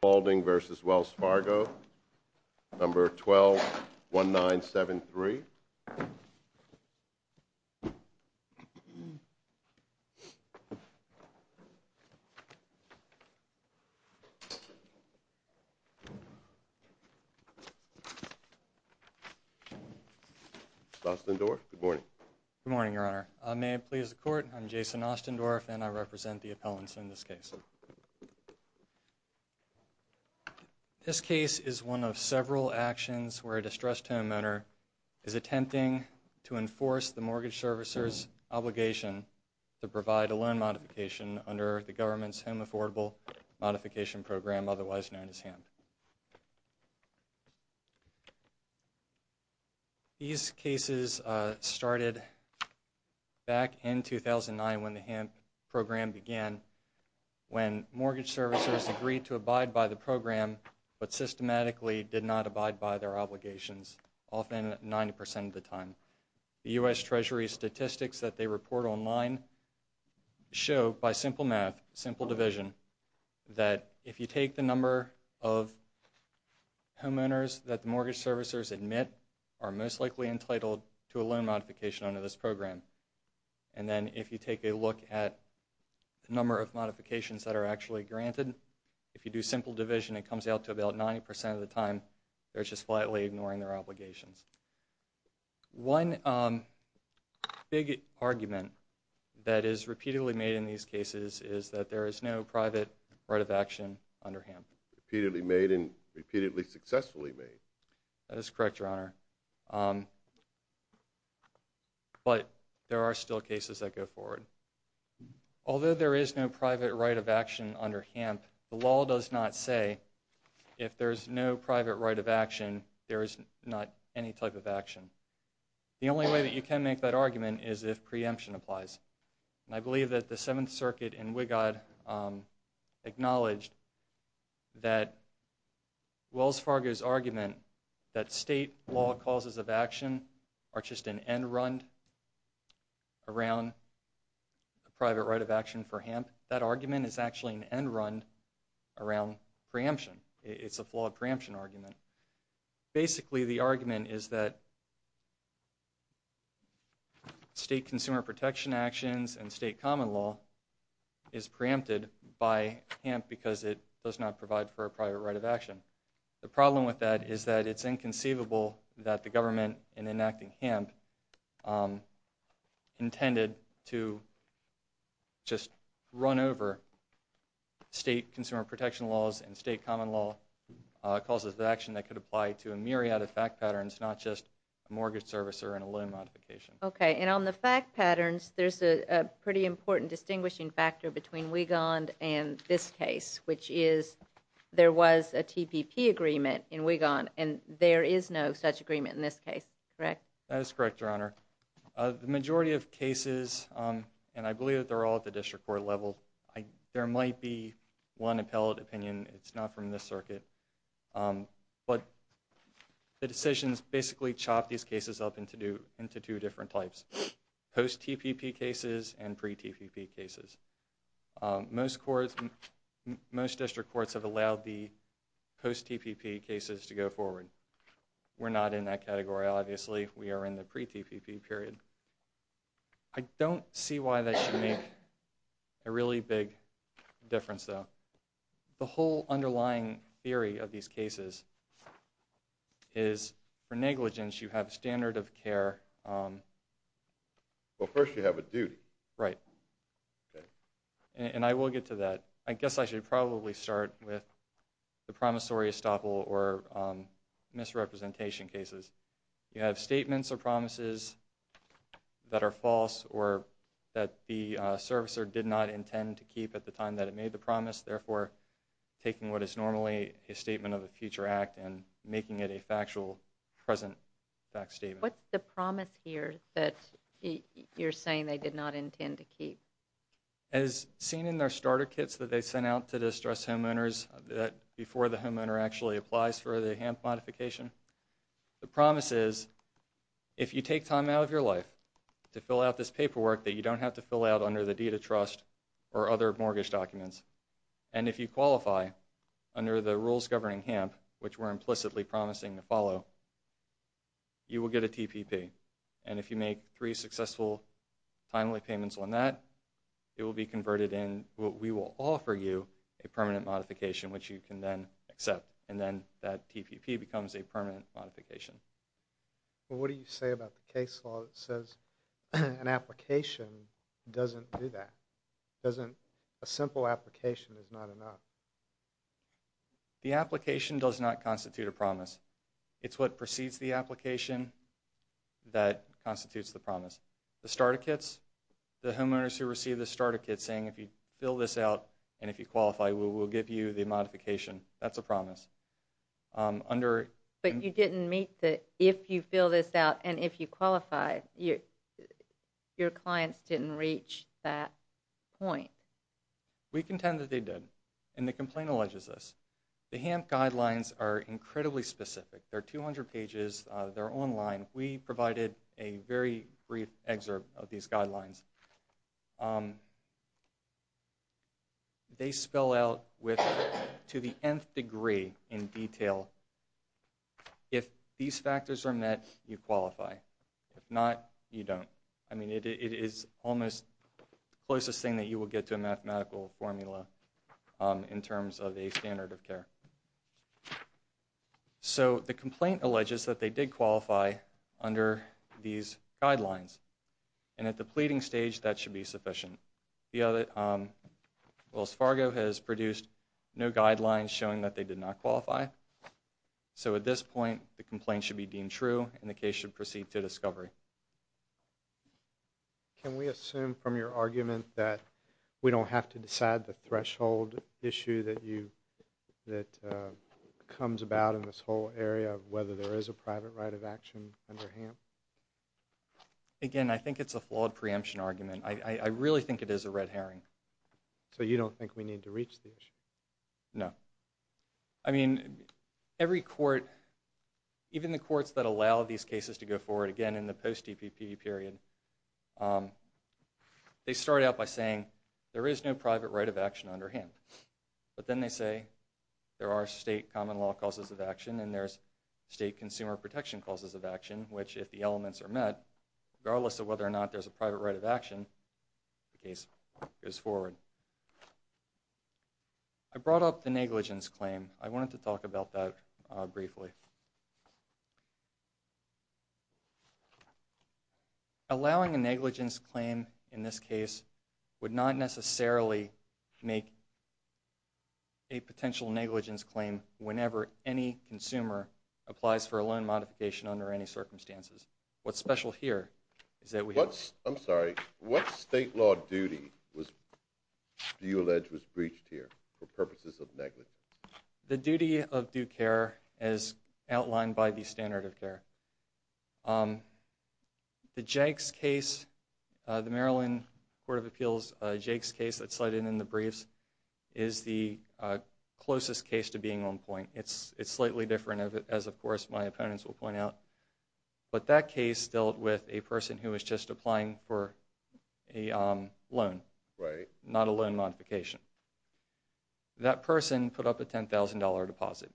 Spaulding v. Wells Fargo, Number 121973. Austindorf, good morning. Good morning, Your Honor. May it please the Court, I'm Jason Austindorf and I represent the appellants in this case. This case is one of several actions where a distressed homeowner is attempting to enforce the mortgage servicer's obligation to provide a loan modification under the government's Home Affordable Modification Program, otherwise known as HAMP. These cases started back in 2009 when the HAMP program began, when mortgage servicers agreed to abide by the program but systematically did not abide by their obligations, often 90 percent of the time. The U.S. Treasury statistics that they report online show by simple math, simple division, that if you take the number of homeowners that the mortgage servicers admit are most likely entitled to a loan modification under this program, and then if you take a look at the number of modifications that are actually granted, if you do simple division it comes out to about 90 percent of the time, they're just flatly ignoring their obligations. One big argument that is repeatedly made in these cases is that there is no private right of action under HAMP. Repeatedly made and repeatedly successfully made. That is correct, Your Honor. But there are still cases that go forward. Although there is no private right of action under HAMP, the law does not say if there is no private right of action, there is not any type of action. The only way that you can make that argument is if preemption applies. And I believe that the Seventh Circuit in Wigod acknowledged that Wells Fargo's argument that state law causes of action are just an end-run around a private right of action for HAMP, that argument is actually an end-run around preemption. It's a flawed preemption argument. Basically, the argument is that state consumer protection actions and state common law is preempted by HAMP because it does not provide for a private right of action. The problem with that is that it's inconceivable that the government, in enacting HAMP, intended to just run over state consumer protection laws and state common law causes of action that could apply to a myriad of fact patterns, not just a mortgage servicer and a loan modification. Okay, and on the fact patterns, there's a pretty important distinguishing factor between Wigond and this case, which is there was a TPP agreement in Wigond and there is no such agreement in this case, correct? That is correct, Your Honor. The majority of cases, and I believe that they're all at the district court level, there might be one appellate opinion, it's not from this circuit, but the decisions basically chop these cases up into two different types, post-TPP cases and pre-TPP cases. Most district courts have allowed the post-TPP cases to go forward. We're not in that category, obviously. We are in the pre-TPP period. I don't see why that should make a really big difference, though. The whole underlying theory of these cases is for negligence, you have a standard of care. Well, first you have a duty. Right. And I will get to that. I guess I should probably start with the promissory estoppel or misrepresentation cases. You have statements or promises that are false or that the servicer did not intend to keep at the time that it made the promise, therefore taking what is normally a statement of a future act and making it a factual, present fact statement. What's the promise here that you're saying they did not intend to keep? As seen in their starter kits that they sent out to distressed homeowners before the homeowner actually applies for the HAMP modification, the promise is if you take time out of your life to fill out this paperwork that you don't have to fill out under the deed of trust or other mortgage documents, and if you qualify under the rules governing HAMP, which we're implicitly promising to follow, you will get a TPP. And if you make three successful timely payments on that, it will be converted in. We will offer you a permanent modification, which you can then accept, and then that TPP becomes a permanent modification. Well, what do you say about the case law that says an application doesn't do that? A simple application is not enough. The application does not constitute a promise. It's what precedes the application that constitutes the promise. The starter kits, the homeowners who receive the starter kits saying if you fill this out and if you qualify, we will give you the modification, that's a promise. But you didn't meet the if you fill this out and if you qualify, your clients didn't reach that point. We contend that they did, and the complaint alleges this. The HAMP guidelines are incredibly specific. They're 200 pages. They're online. We provided a very brief excerpt of these guidelines. They spell out to the nth degree in detail if these factors are met, you qualify. If not, you don't. I mean, it is almost the closest thing that you will get to a mathematical formula in terms of a standard of care. So the complaint alleges that they did qualify under these guidelines. And at the pleading stage, that should be sufficient. Wells Fargo has produced no guidelines showing that they did not qualify. So at this point, the complaint should be deemed true, and the case should proceed to discovery. Can we assume from your argument that we don't have to decide the threshold issue that comes about in this whole area of whether there is a private right of action under HAMP? Again, I think it's a flawed preemption argument. I really think it is a red herring. So you don't think we need to reach the issue? No. I mean, every court, even the courts that allow these cases to go forward, again, in the post-DPP period, they start out by saying there is no private right of action under HAMP. But then they say there are state common law causes of action, and there's state consumer protection causes of action, which if the elements are met, regardless of whether or not there's a private right of action, the case goes forward. I brought up the negligence claim. I wanted to talk about that briefly. Allowing a negligence claim in this case would not necessarily make a potential negligence claim whenever any consumer applies for a loan modification under any circumstances. What's special here is that we have- I'm sorry. What state law duty do you allege was breached here for purposes of negligence? The duty of due care as outlined by the standard of care. The Jake's case, the Maryland Court of Appeals Jake's case that's cited in the briefs, is the closest case to being on point. It's slightly different, as of course my opponents will point out. But that case dealt with a person who was just applying for a loan, not a loan modification. That person put up a $10,000 deposit.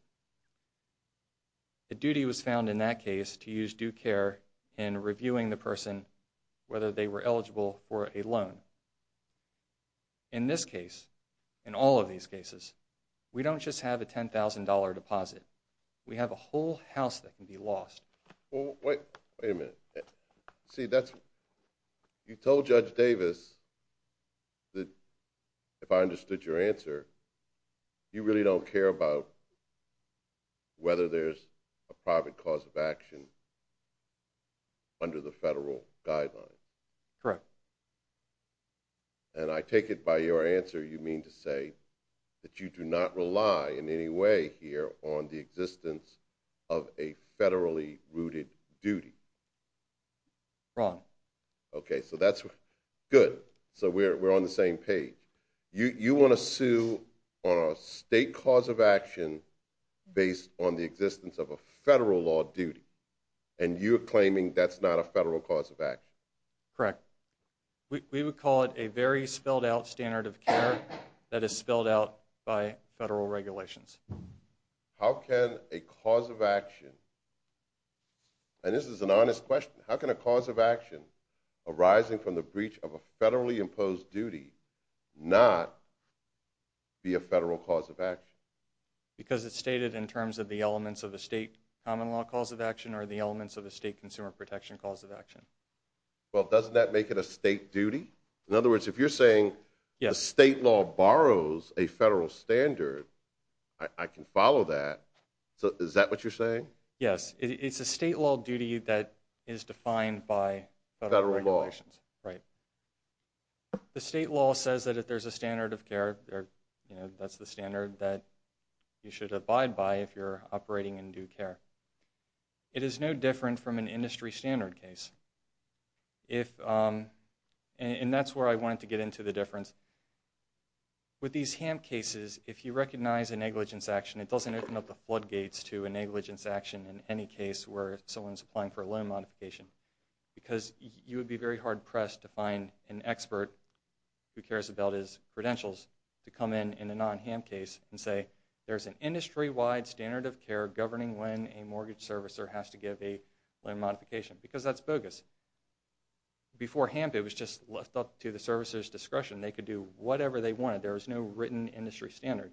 The duty was found in that case to use due care in reviewing the person, whether they were eligible for a loan. In this case, in all of these cases, we don't just have a $10,000 deposit. We have a whole house that can be lost. Wait a minute. You told Judge Davis that, if I understood your answer, you really don't care about whether there's a private cause of action under the federal guidelines. Correct. And I take it by your answer you mean to say that you do not rely in any way here on the existence of a federally rooted duty. Wrong. Okay, so that's good. So we're on the same page. You want to sue on a state cause of action based on the existence of a federal law duty. And you're claiming that's not a federal cause of action. Correct. We would call it a very spelled out standard of care that is spelled out by federal regulations. How can a cause of action, and this is an honest question, how can a cause of action arising from the breach of a federally imposed duty not be a federal cause of action? Because it's stated in terms of the elements of a state common law cause of action or the elements of a state consumer protection cause of action. Well, doesn't that make it a state duty? In other words, if you're saying the state law borrows a federal standard, I can follow that. Is that what you're saying? Yes. It's a state law duty that is defined by federal regulations. Federal law. Right. The state law says that if there's a standard of care, that's the standard that you should abide by if you're operating in due care. It is no different from an industry standard case. And that's where I wanted to get into the difference. With these HAMP cases, if you recognize a negligence action, it doesn't open up the floodgates to a negligence action in any case where someone's applying for a loan modification. Because you would be very hard-pressed to find an expert who cares about his credentials to come in in a non-HAMP case and say, there's an industry-wide standard of care governing when a mortgage servicer has to give a loan modification. Because that's bogus. Before HAMP, it was just left up to the servicer's discretion. They could do whatever they wanted. There was no written industry standard.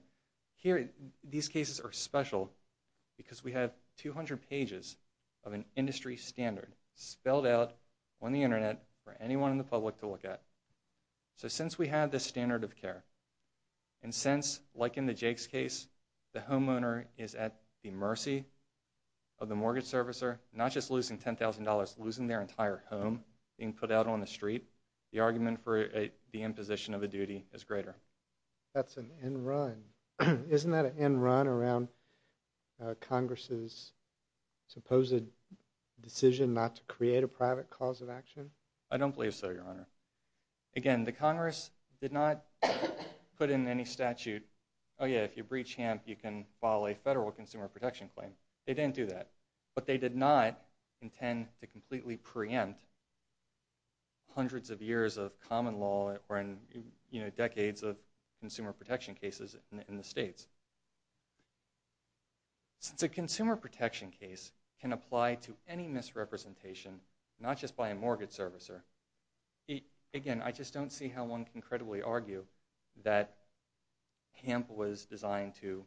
Here, these cases are special because we have 200 pages of an industry standard spelled out on the Internet for anyone in the public to look at. So since we have this standard of care, and since, like in the Jake's case, the homeowner is at the mercy of the mortgage servicer, not just losing $10,000, losing their entire home, being put out on the street, the argument for the imposition of a duty is greater. That's an end run. Isn't that an end run around Congress's supposed decision not to create a private cause of action? I don't believe so, Your Honor. Again, the Congress did not put in any statute, oh yeah, if you breach HAMP, you can file a federal consumer protection claim. They didn't do that. But they did not intend to completely preempt hundreds of years of common law or decades of consumer protection cases in the states. Since a consumer protection case can apply to any misrepresentation, not just by a mortgage servicer, again, I just don't see how one can credibly argue that HAMP was designed to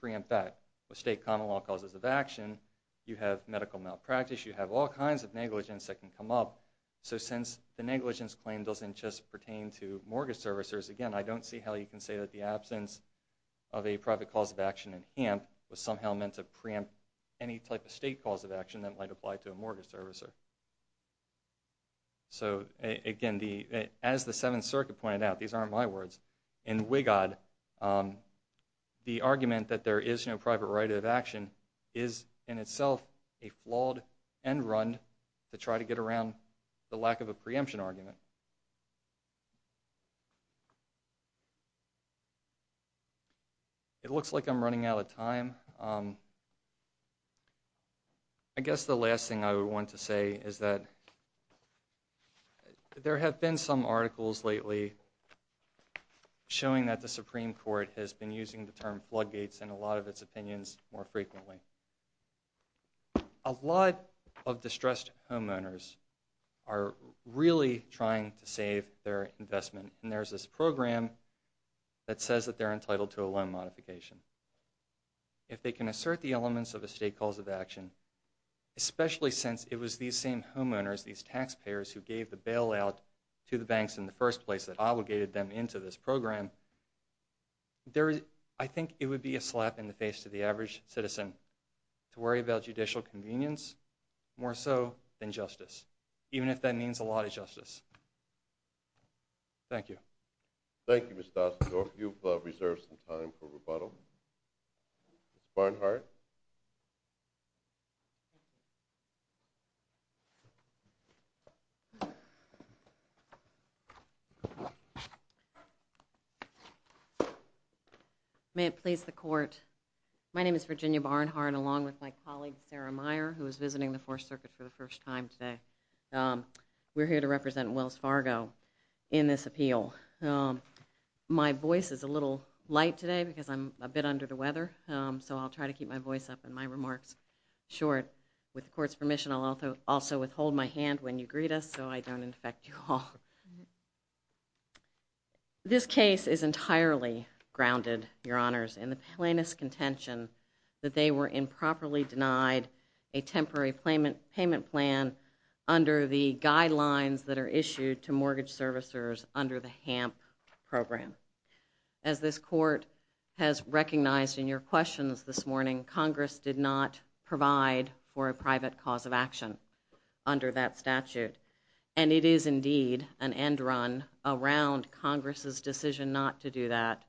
preempt that. With state common law causes of action, you have medical malpractice, you have all kinds of negligence that can come up. So since the negligence claim doesn't just pertain to mortgage servicers, again, I don't see how you can say that the absence of a private cause of action in HAMP was somehow meant to preempt any type of state cause of action that might apply to a mortgage servicer. So again, as the Seventh Circuit pointed out, these aren't my words, in WIGOD, the argument that there is no private right of action is in itself a flawed and run to try to get around the lack of a preemption argument. It looks like I'm running out of time. I guess the last thing I would want to say is that there have been some articles lately showing that the Supreme Court has been using the term floodgates in a lot of its opinions more frequently. A lot of distressed homeowners are really trying to save their investment, and there's this program that says that they're entitled to a loan modification. If they can assert the elements of a state cause of action, especially since it was these same homeowners, these taxpayers, who gave the bailout to the banks in the first place that obligated them into this program, I think it would be a slap in the face to the average citizen to worry about judicial convenience more so than justice, even if that means a lot of justice. Thank you. Thank you, Mr. Dasendorf. You've reserved some time for rebuttal. Ms. Barnhart. May it please the court. My name is Virginia Barnhart, along with my colleague Sarah Meyer, who is visiting the Fourth Circuit for the first time today. We're here to represent Wells Fargo in this appeal. My voice is a little light today because I'm a bit under the weather, so I'll try to keep my voice up and my remarks short. With the court's permission, I'll also withhold my hand when you greet us so I don't infect you all. This case is entirely grounded, Your Honors, in the plaintiff's contention that they were improperly denied a temporary payment plan under the guidelines that are issued to mortgage servicers under the HAMP program. As this court has recognized in your questions this morning, Congress did not provide for a private cause of action under that statute, and it is indeed an end run around Congress's decision not to do that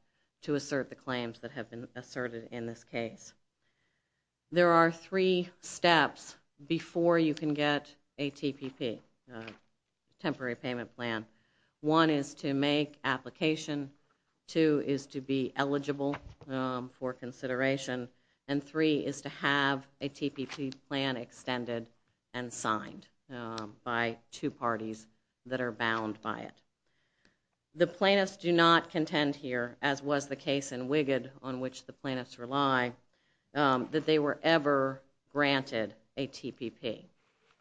to assert the claims that have been asserted in this case. There are three steps before you can get a TPP, a temporary payment plan. One is to make application, two is to be eligible for consideration, and three is to have a TPP plan extended and signed by two parties that are bound by it. The plaintiffs do not contend here, as was the case in Wigood on which the plaintiffs rely, that they were ever granted a TPP.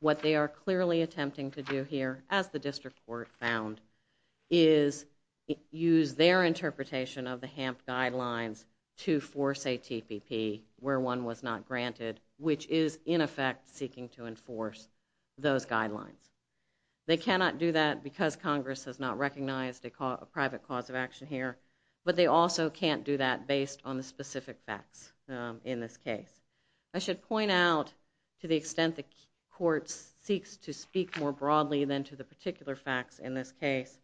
What they are clearly attempting to do here, as the district court found, is use their interpretation of the HAMP guidelines to force a TPP where one was not granted, which is, in effect, seeking to enforce those guidelines. They cannot do that because Congress has not recognized a private cause of action here, but they also can't do that based on the specific facts in this case. I should point out, to the extent the court seeks to speak more broadly than to the particular facts in this case,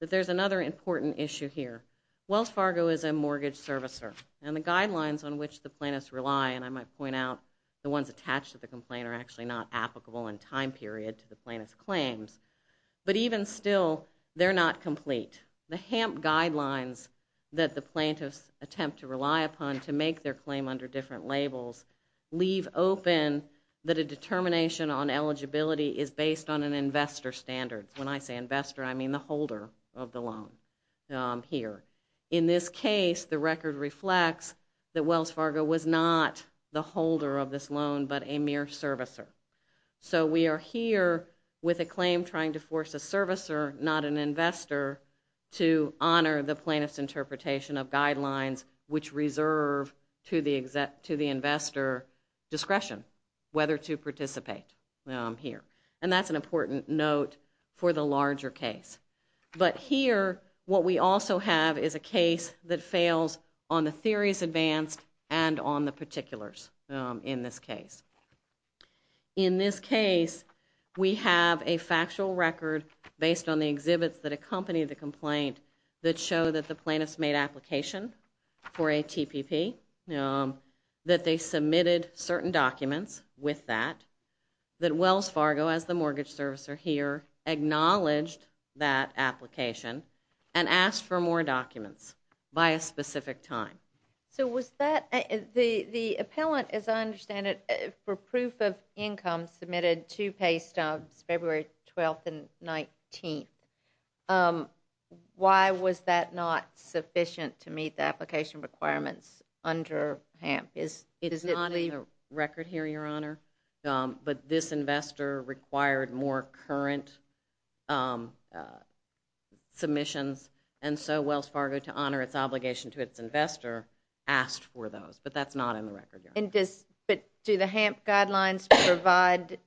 that there's another important issue here. Wells Fargo is a mortgage servicer, and the guidelines on which the plaintiffs rely, and I might point out the ones attached to the complaint are actually not applicable in time period to the plaintiff's claims, but even still, they're not complete. The HAMP guidelines that the plaintiffs attempt to rely upon to make their claim under different labels leave open that a determination on eligibility is based on an investor standard. When I say investor, I mean the holder of the loan here. In this case, the record reflects that Wells Fargo was not the holder of this loan, but a mere servicer. So we are here with a claim trying to force a servicer, not an investor, to honor the plaintiff's interpretation of guidelines which reserve to the investor discretion whether to participate here. And that's an important note for the larger case. But here, what we also have is a case that fails on the theories advanced and on the particulars in this case. In this case, we have a factual record based on the exhibits that accompany the complaint that show that the plaintiffs made application for a TPP, that they submitted certain documents with that, that Wells Fargo, as the mortgage servicer here, acknowledged that application and asked for more documents by a specific time. So was that – the appellant, as I understand it, for proof of income submitted two pay stubs, February 12th and 19th. Why was that not sufficient to meet the application requirements under HAMP? It is not in the record here, Your Honor. But this investor required more current submissions, and so Wells Fargo, to honor its obligation to its investor, asked for those. But that's not in the record, Your Honor. But do the HAMP guidelines provide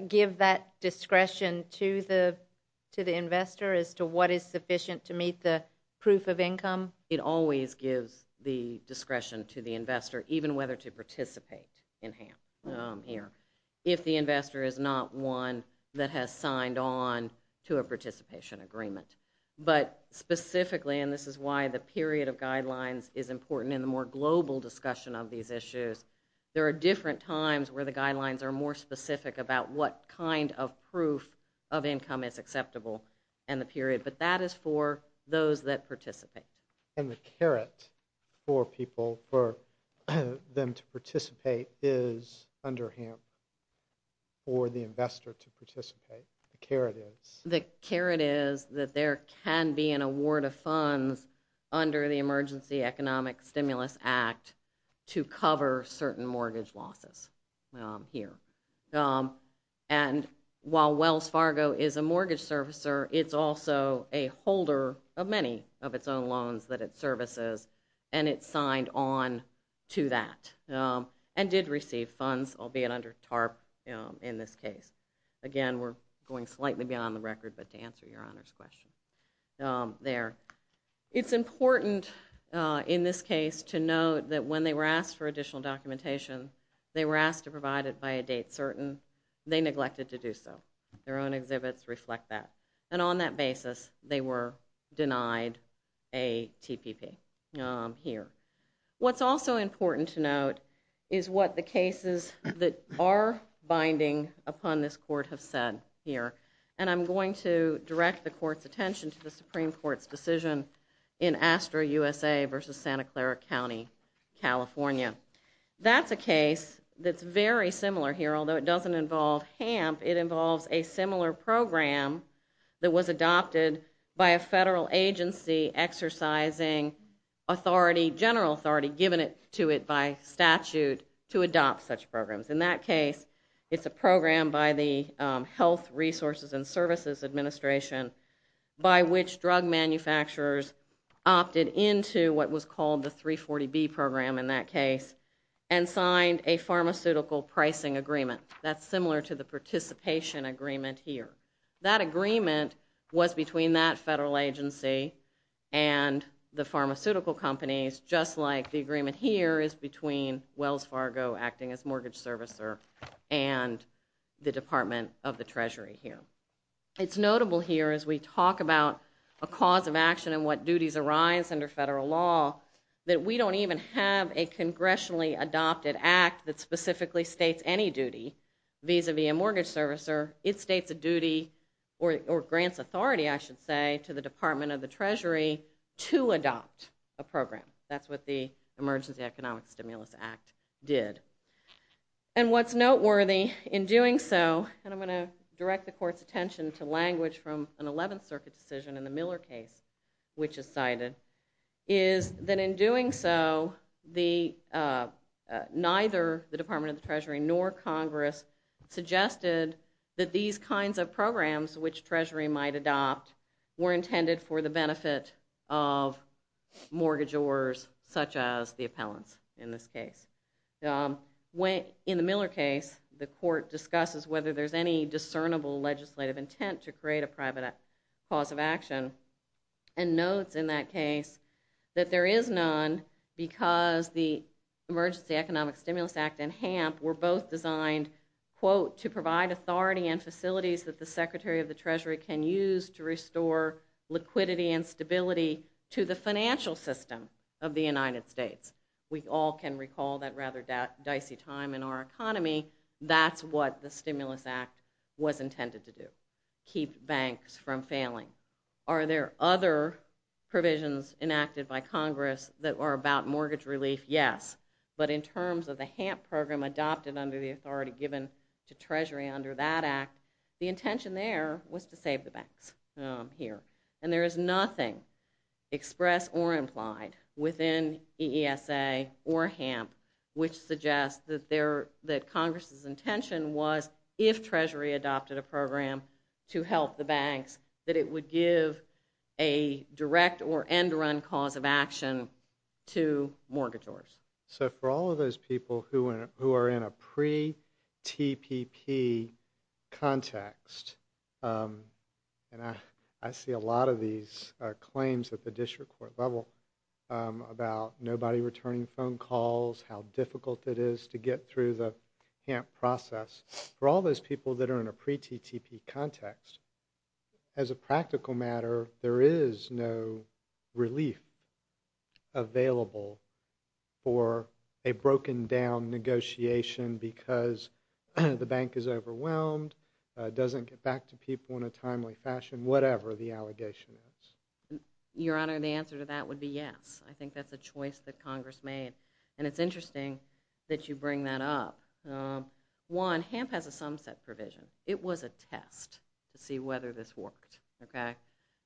– give that discretion to the investor as to what is sufficient to meet the proof of income? It always gives the discretion to the investor, even whether to participate in HAMP here, if the investor is not one that has signed on to a participation agreement. But specifically, and this is why the period of guidelines is important in the more global discussion of these issues, there are different times where the guidelines are more specific about what kind of proof of income is acceptable in the period. But that is for those that participate. And the caret for people, for them to participate, is under HAMP for the investor to participate? The caret is? The caret is that there can be an award of funds under the Emergency Economic Stimulus Act to cover certain mortgage losses here. And while Wells Fargo is a mortgage servicer, it's also a holder of many of its own loans that it services, and it signed on to that and did receive funds, albeit under TARP in this case. Again, we're going slightly beyond the record, but to answer Your Honor's question there. It's important in this case to note that when they were asked for additional documentation, they were asked to provide it by a date certain, they neglected to do so. Their own exhibits reflect that. And on that basis, they were denied a TPP here. What's also important to note is what the cases that are binding upon this court have said here. And I'm going to direct the court's attention to the Supreme Court's decision in Astra USA versus Santa Clara County, California. That's a case that's very similar here, although it doesn't involve HAMP. It involves a similar program that was adopted by a federal agency exercising authority, general authority given to it by statute to adopt such programs. In that case, it's a program by the Health Resources and Services Administration by which drug manufacturers opted into what was called the 340B program in that case and signed a pharmaceutical pricing agreement. That's similar to the participation agreement here. That agreement was between that federal agency and the pharmaceutical companies, just like the agreement here is between Wells Fargo acting as mortgage servicer and the Department of the Treasury here. It's notable here as we talk about a cause of action and what duties arise under federal law that we don't even have a congressionally adopted act that specifically states any duty vis-a-vis a mortgage servicer. It states a duty or grants authority, I should say, to the Department of the Treasury to adopt a program. That's what the Emergency Economic Stimulus Act did. What's noteworthy in doing so, and I'm going to direct the court's attention to language from an 11th Circuit decision in the Miller case, which is cited, is that in doing so, neither the Department of the Treasury nor Congress suggested that these kinds of programs which Treasury might adopt were intended for the benefit of mortgagors such as the appellants in this case. In the Miller case, the court discusses whether there's any discernible legislative intent to create a private cause of action and notes in that case that there is none because the Emergency Economic Stimulus Act and HAMP were both designed, quote, to provide authority and facilities that the Secretary of the Treasury can use to restore liquidity and stability to the financial system of the United States. We all can recall that rather dicey time in our economy. That's what the Stimulus Act was intended to do, keep banks from failing. Are there other provisions enacted by Congress that are about mortgage relief? Yes, but in terms of the HAMP program adopted under the authority given to Treasury under that act, the intention there was to save the banks here. And there is nothing expressed or implied within EESA or HAMP which suggests that Congress's intention was if Treasury adopted a program to help the banks that it would give a direct or end-run cause of action to mortgagors. So for all of those people who are in a pre-TPP context, and I see a lot of these claims at the district court level about nobody returning phone calls, how difficult it is to get through the HAMP process. For all those people that are in a pre-TTP context, as a practical matter, there is no relief available for a broken-down negotiation because the bank is overwhelmed, doesn't get back to people in a timely fashion, whatever the allegation is. Your Honor, the answer to that would be yes. I think that's a choice that Congress made, and it's interesting that you bring that up. One, HAMP has a sumset provision. It was a test to see whether this worked, okay?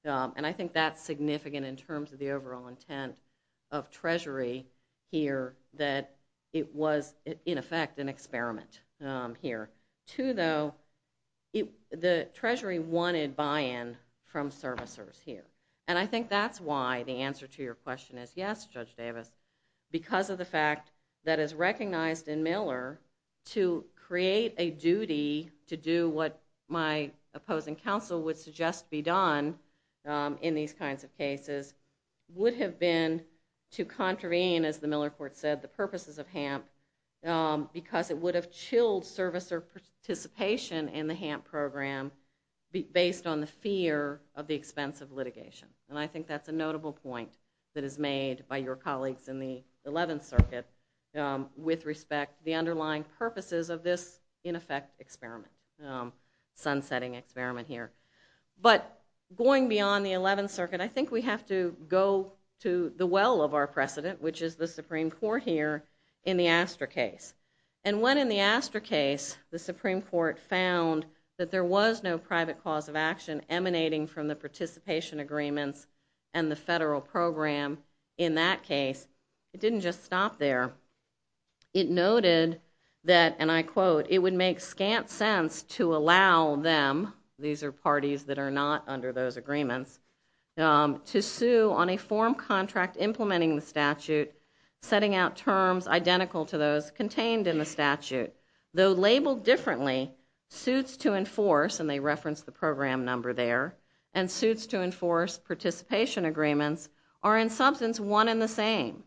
And I think that's significant in terms of the overall intent of Treasury here that it was, in effect, an experiment here. Two, though, the Treasury wanted buy-in from servicers here. And I think that's why the answer to your question is yes, Judge Davis, because of the fact that it's recognized in Miller to create a duty to do what my opposing counsel would suggest be done in these kinds of cases, would have been to contravene, as the Miller court said, the purposes of HAMP because it would have chilled servicer participation in the HAMP program And I think that's a notable point that is made by your colleagues in the 11th Circuit with respect to the underlying purposes of this, in effect, experiment, sun-setting experiment here. But going beyond the 11th Circuit, I think we have to go to the well of our precedent, which is the Supreme Court here in the Astor case. And when in the Astor case the Supreme Court found that there was no private cause of action emanating from the participation agreements and the federal program in that case, it didn't just stop there. It noted that, and I quote, it would make scant sense to allow them, these are parties that are not under those agreements, to sue on a form contract implementing the statute, setting out terms identical to those contained in the statute, though labeled differently, suits to enforce, and they reference the program number there, and suits to enforce participation agreements, are in substance one and the same.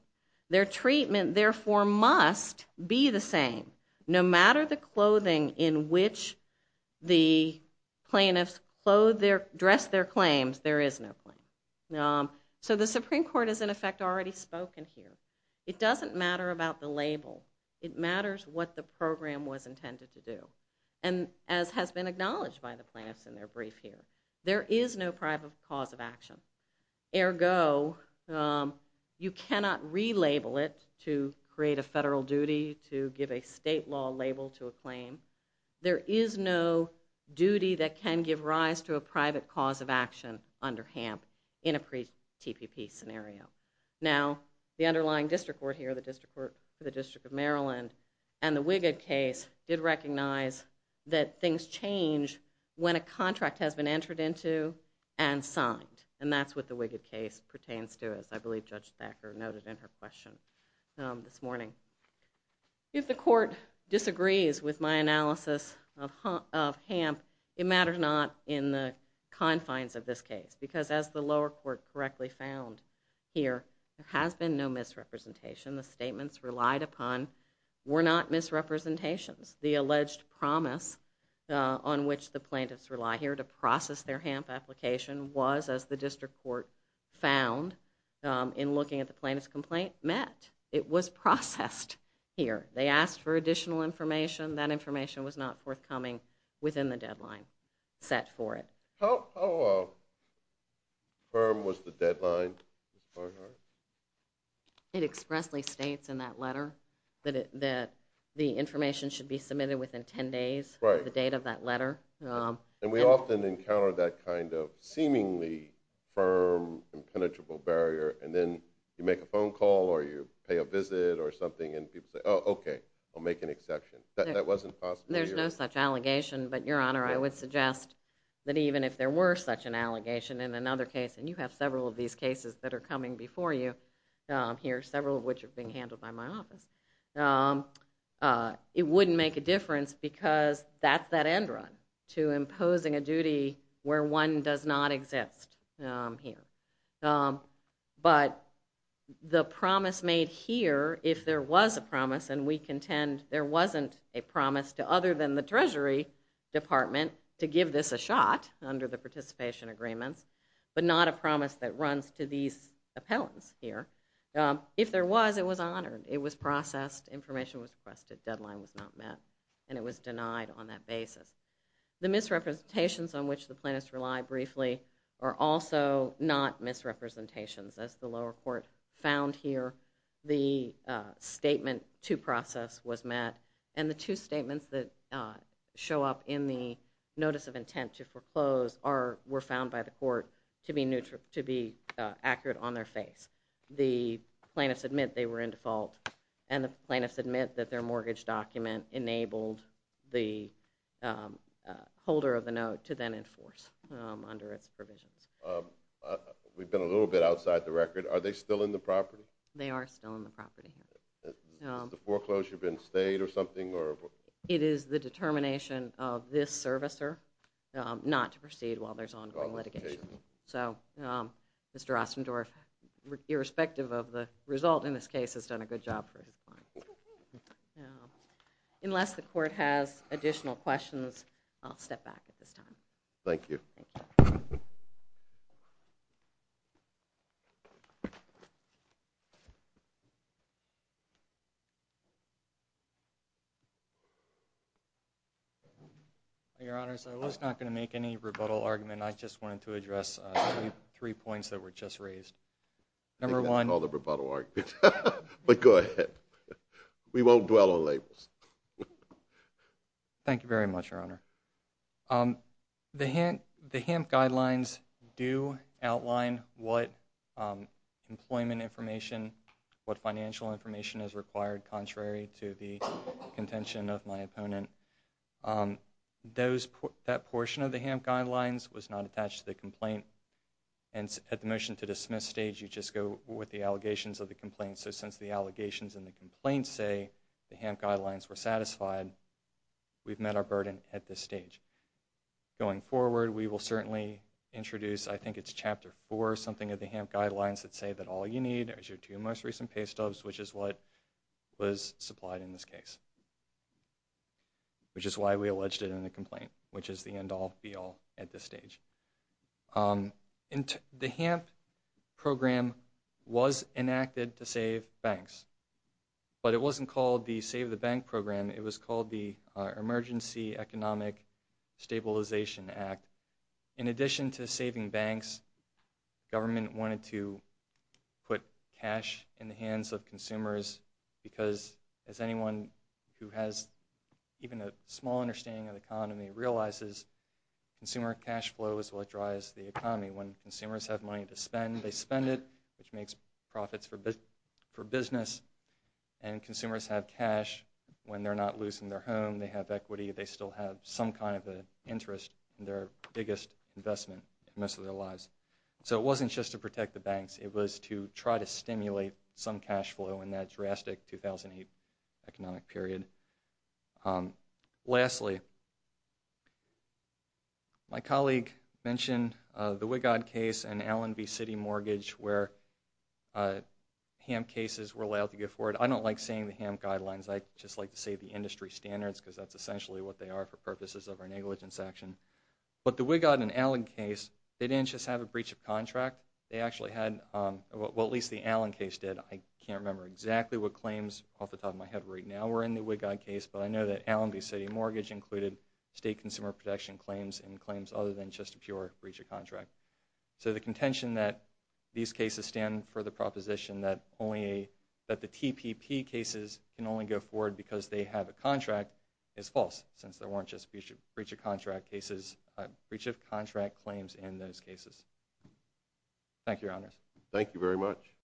Their treatment, therefore, must be the same. No matter the clothing in which the plaintiffs dress their claims, there is no claim. So the Supreme Court is, in effect, already spoken here. It doesn't matter about the label. It matters what the program was intended to do. And as has been acknowledged by the plaintiffs in their brief here, there is no private cause of action. Ergo, you cannot relabel it to create a federal duty, to give a state law label to a claim. There is no duty that can give rise to a private cause of action under HAMP in a TPP scenario. Now, the underlying district court here, the District of Maryland, and the Wiggett case did recognize that things change when a contract has been entered into and signed. And that's what the Wiggett case pertains to, as I believe Judge Thacker noted in her question this morning. If the court disagrees with my analysis of HAMP, it matters not in the confines of this case, because as the lower court correctly found here, there has been no misrepresentation. The statements relied upon were not misrepresentations. The alleged promise on which the plaintiffs rely here to process their HAMP application was, as the district court found in looking at the plaintiff's complaint, met. It was processed here. They asked for additional information. That information was not forthcoming within the deadline set for it. How firm was the deadline, Ms. Barnhart? It expressly states in that letter that the information should be submitted within 10 days, the date of that letter. And we often encounter that kind of seemingly firm and penetrable barrier, and then you make a phone call or you pay a visit or something, and people say, oh, okay, I'll make an exception. That wasn't possible here. There's no such allegation, but, Your Honor, I would suggest that even if there were such an allegation in another case, and you have several of these cases that are coming before you here, several of which are being handled by my office, it wouldn't make a difference because that's that end run to imposing a duty where one does not exist here. But the promise made here, if there was a promise, and we contend there wasn't a promise to other than the Treasury Department to give this a shot under the participation agreements, but not a promise that runs to these appellants here. If there was, it was honored. It was processed. Information was requested. Deadline was not met, and it was denied on that basis. The misrepresentations on which the plaintiffs relied briefly are also not misrepresentations, as the lower court found here. The statement to process was met, and the two statements that show up in the notice of intent to foreclose were found by the court to be accurate on their face. The plaintiffs admit they were in default, and the plaintiffs admit that their mortgage document enabled the holder of the note to then enforce under its provisions. We've been a little bit outside the record. Are they still in the property? They are still in the property. Has the foreclosure been stayed or something? It is the determination of this servicer not to proceed while there's ongoing litigation. So Mr. Ostendorf, irrespective of the result in this case, has done a good job for his client. Unless the court has additional questions, I'll step back at this time. Thank you. Your Honors, I was not going to make any rebuttal argument. I just wanted to address three points that were just raised. Number one. I think that's called a rebuttal argument, but go ahead. We won't dwell on labels. Thank you very much, Your Honor. The HAMP guidelines do outline what employment information, what financial information is required contrary to the contention of my opponent. That portion of the HAMP guidelines was not attached to the complaint, and at the motion to dismiss stage, you just go with the allegations of the complaint. So since the allegations in the complaint say the HAMP guidelines were satisfied, we've met our burden at this stage. Going forward, we will certainly introduce, I think it's Chapter 4 or something, of the HAMP guidelines that say that all you need is your two most recent pay stubs, which is what was supplied in this case, which is why we alleged it in the complaint, which is the end-all, be-all at this stage. The HAMP program was enacted to save banks, but it wasn't called the Save the Bank program. It was called the Emergency Economic Stabilization Act. In addition to saving banks, government wanted to put cash in the hands of consumers because, as anyone who has even a small understanding of the economy realizes, consumer cash flow is what drives the economy. When consumers have money to spend, they spend it, which makes profits for business, and consumers have cash when they're not losing their home. They have equity. They still have some kind of an interest in their biggest investment in most of their lives. So it wasn't just to protect the banks. It was to try to stimulate some cash flow in that drastic 2008 economic period. Lastly, my colleague mentioned the Wigod case and Allen v. City Mortgage where HAMP cases were allowed to go forward. I don't like saying the HAMP guidelines. I just like to say the industry standards because that's essentially what they are for purposes of our negligence action. But the Wigod and Allen case, they didn't just have a breach of contract. They actually had what at least the Allen case did. I can't remember exactly what claims off the top of my head right now were in the Wigod case, but I know that Allen v. City Mortgage included state consumer protection claims and claims other than just a pure breach of contract. So the contention that these cases stand for the proposition that the TPP cases can only go forward because they have a contract is false since there weren't just breach of contract claims in those cases. Thank you, Your Honors. Thank you very much.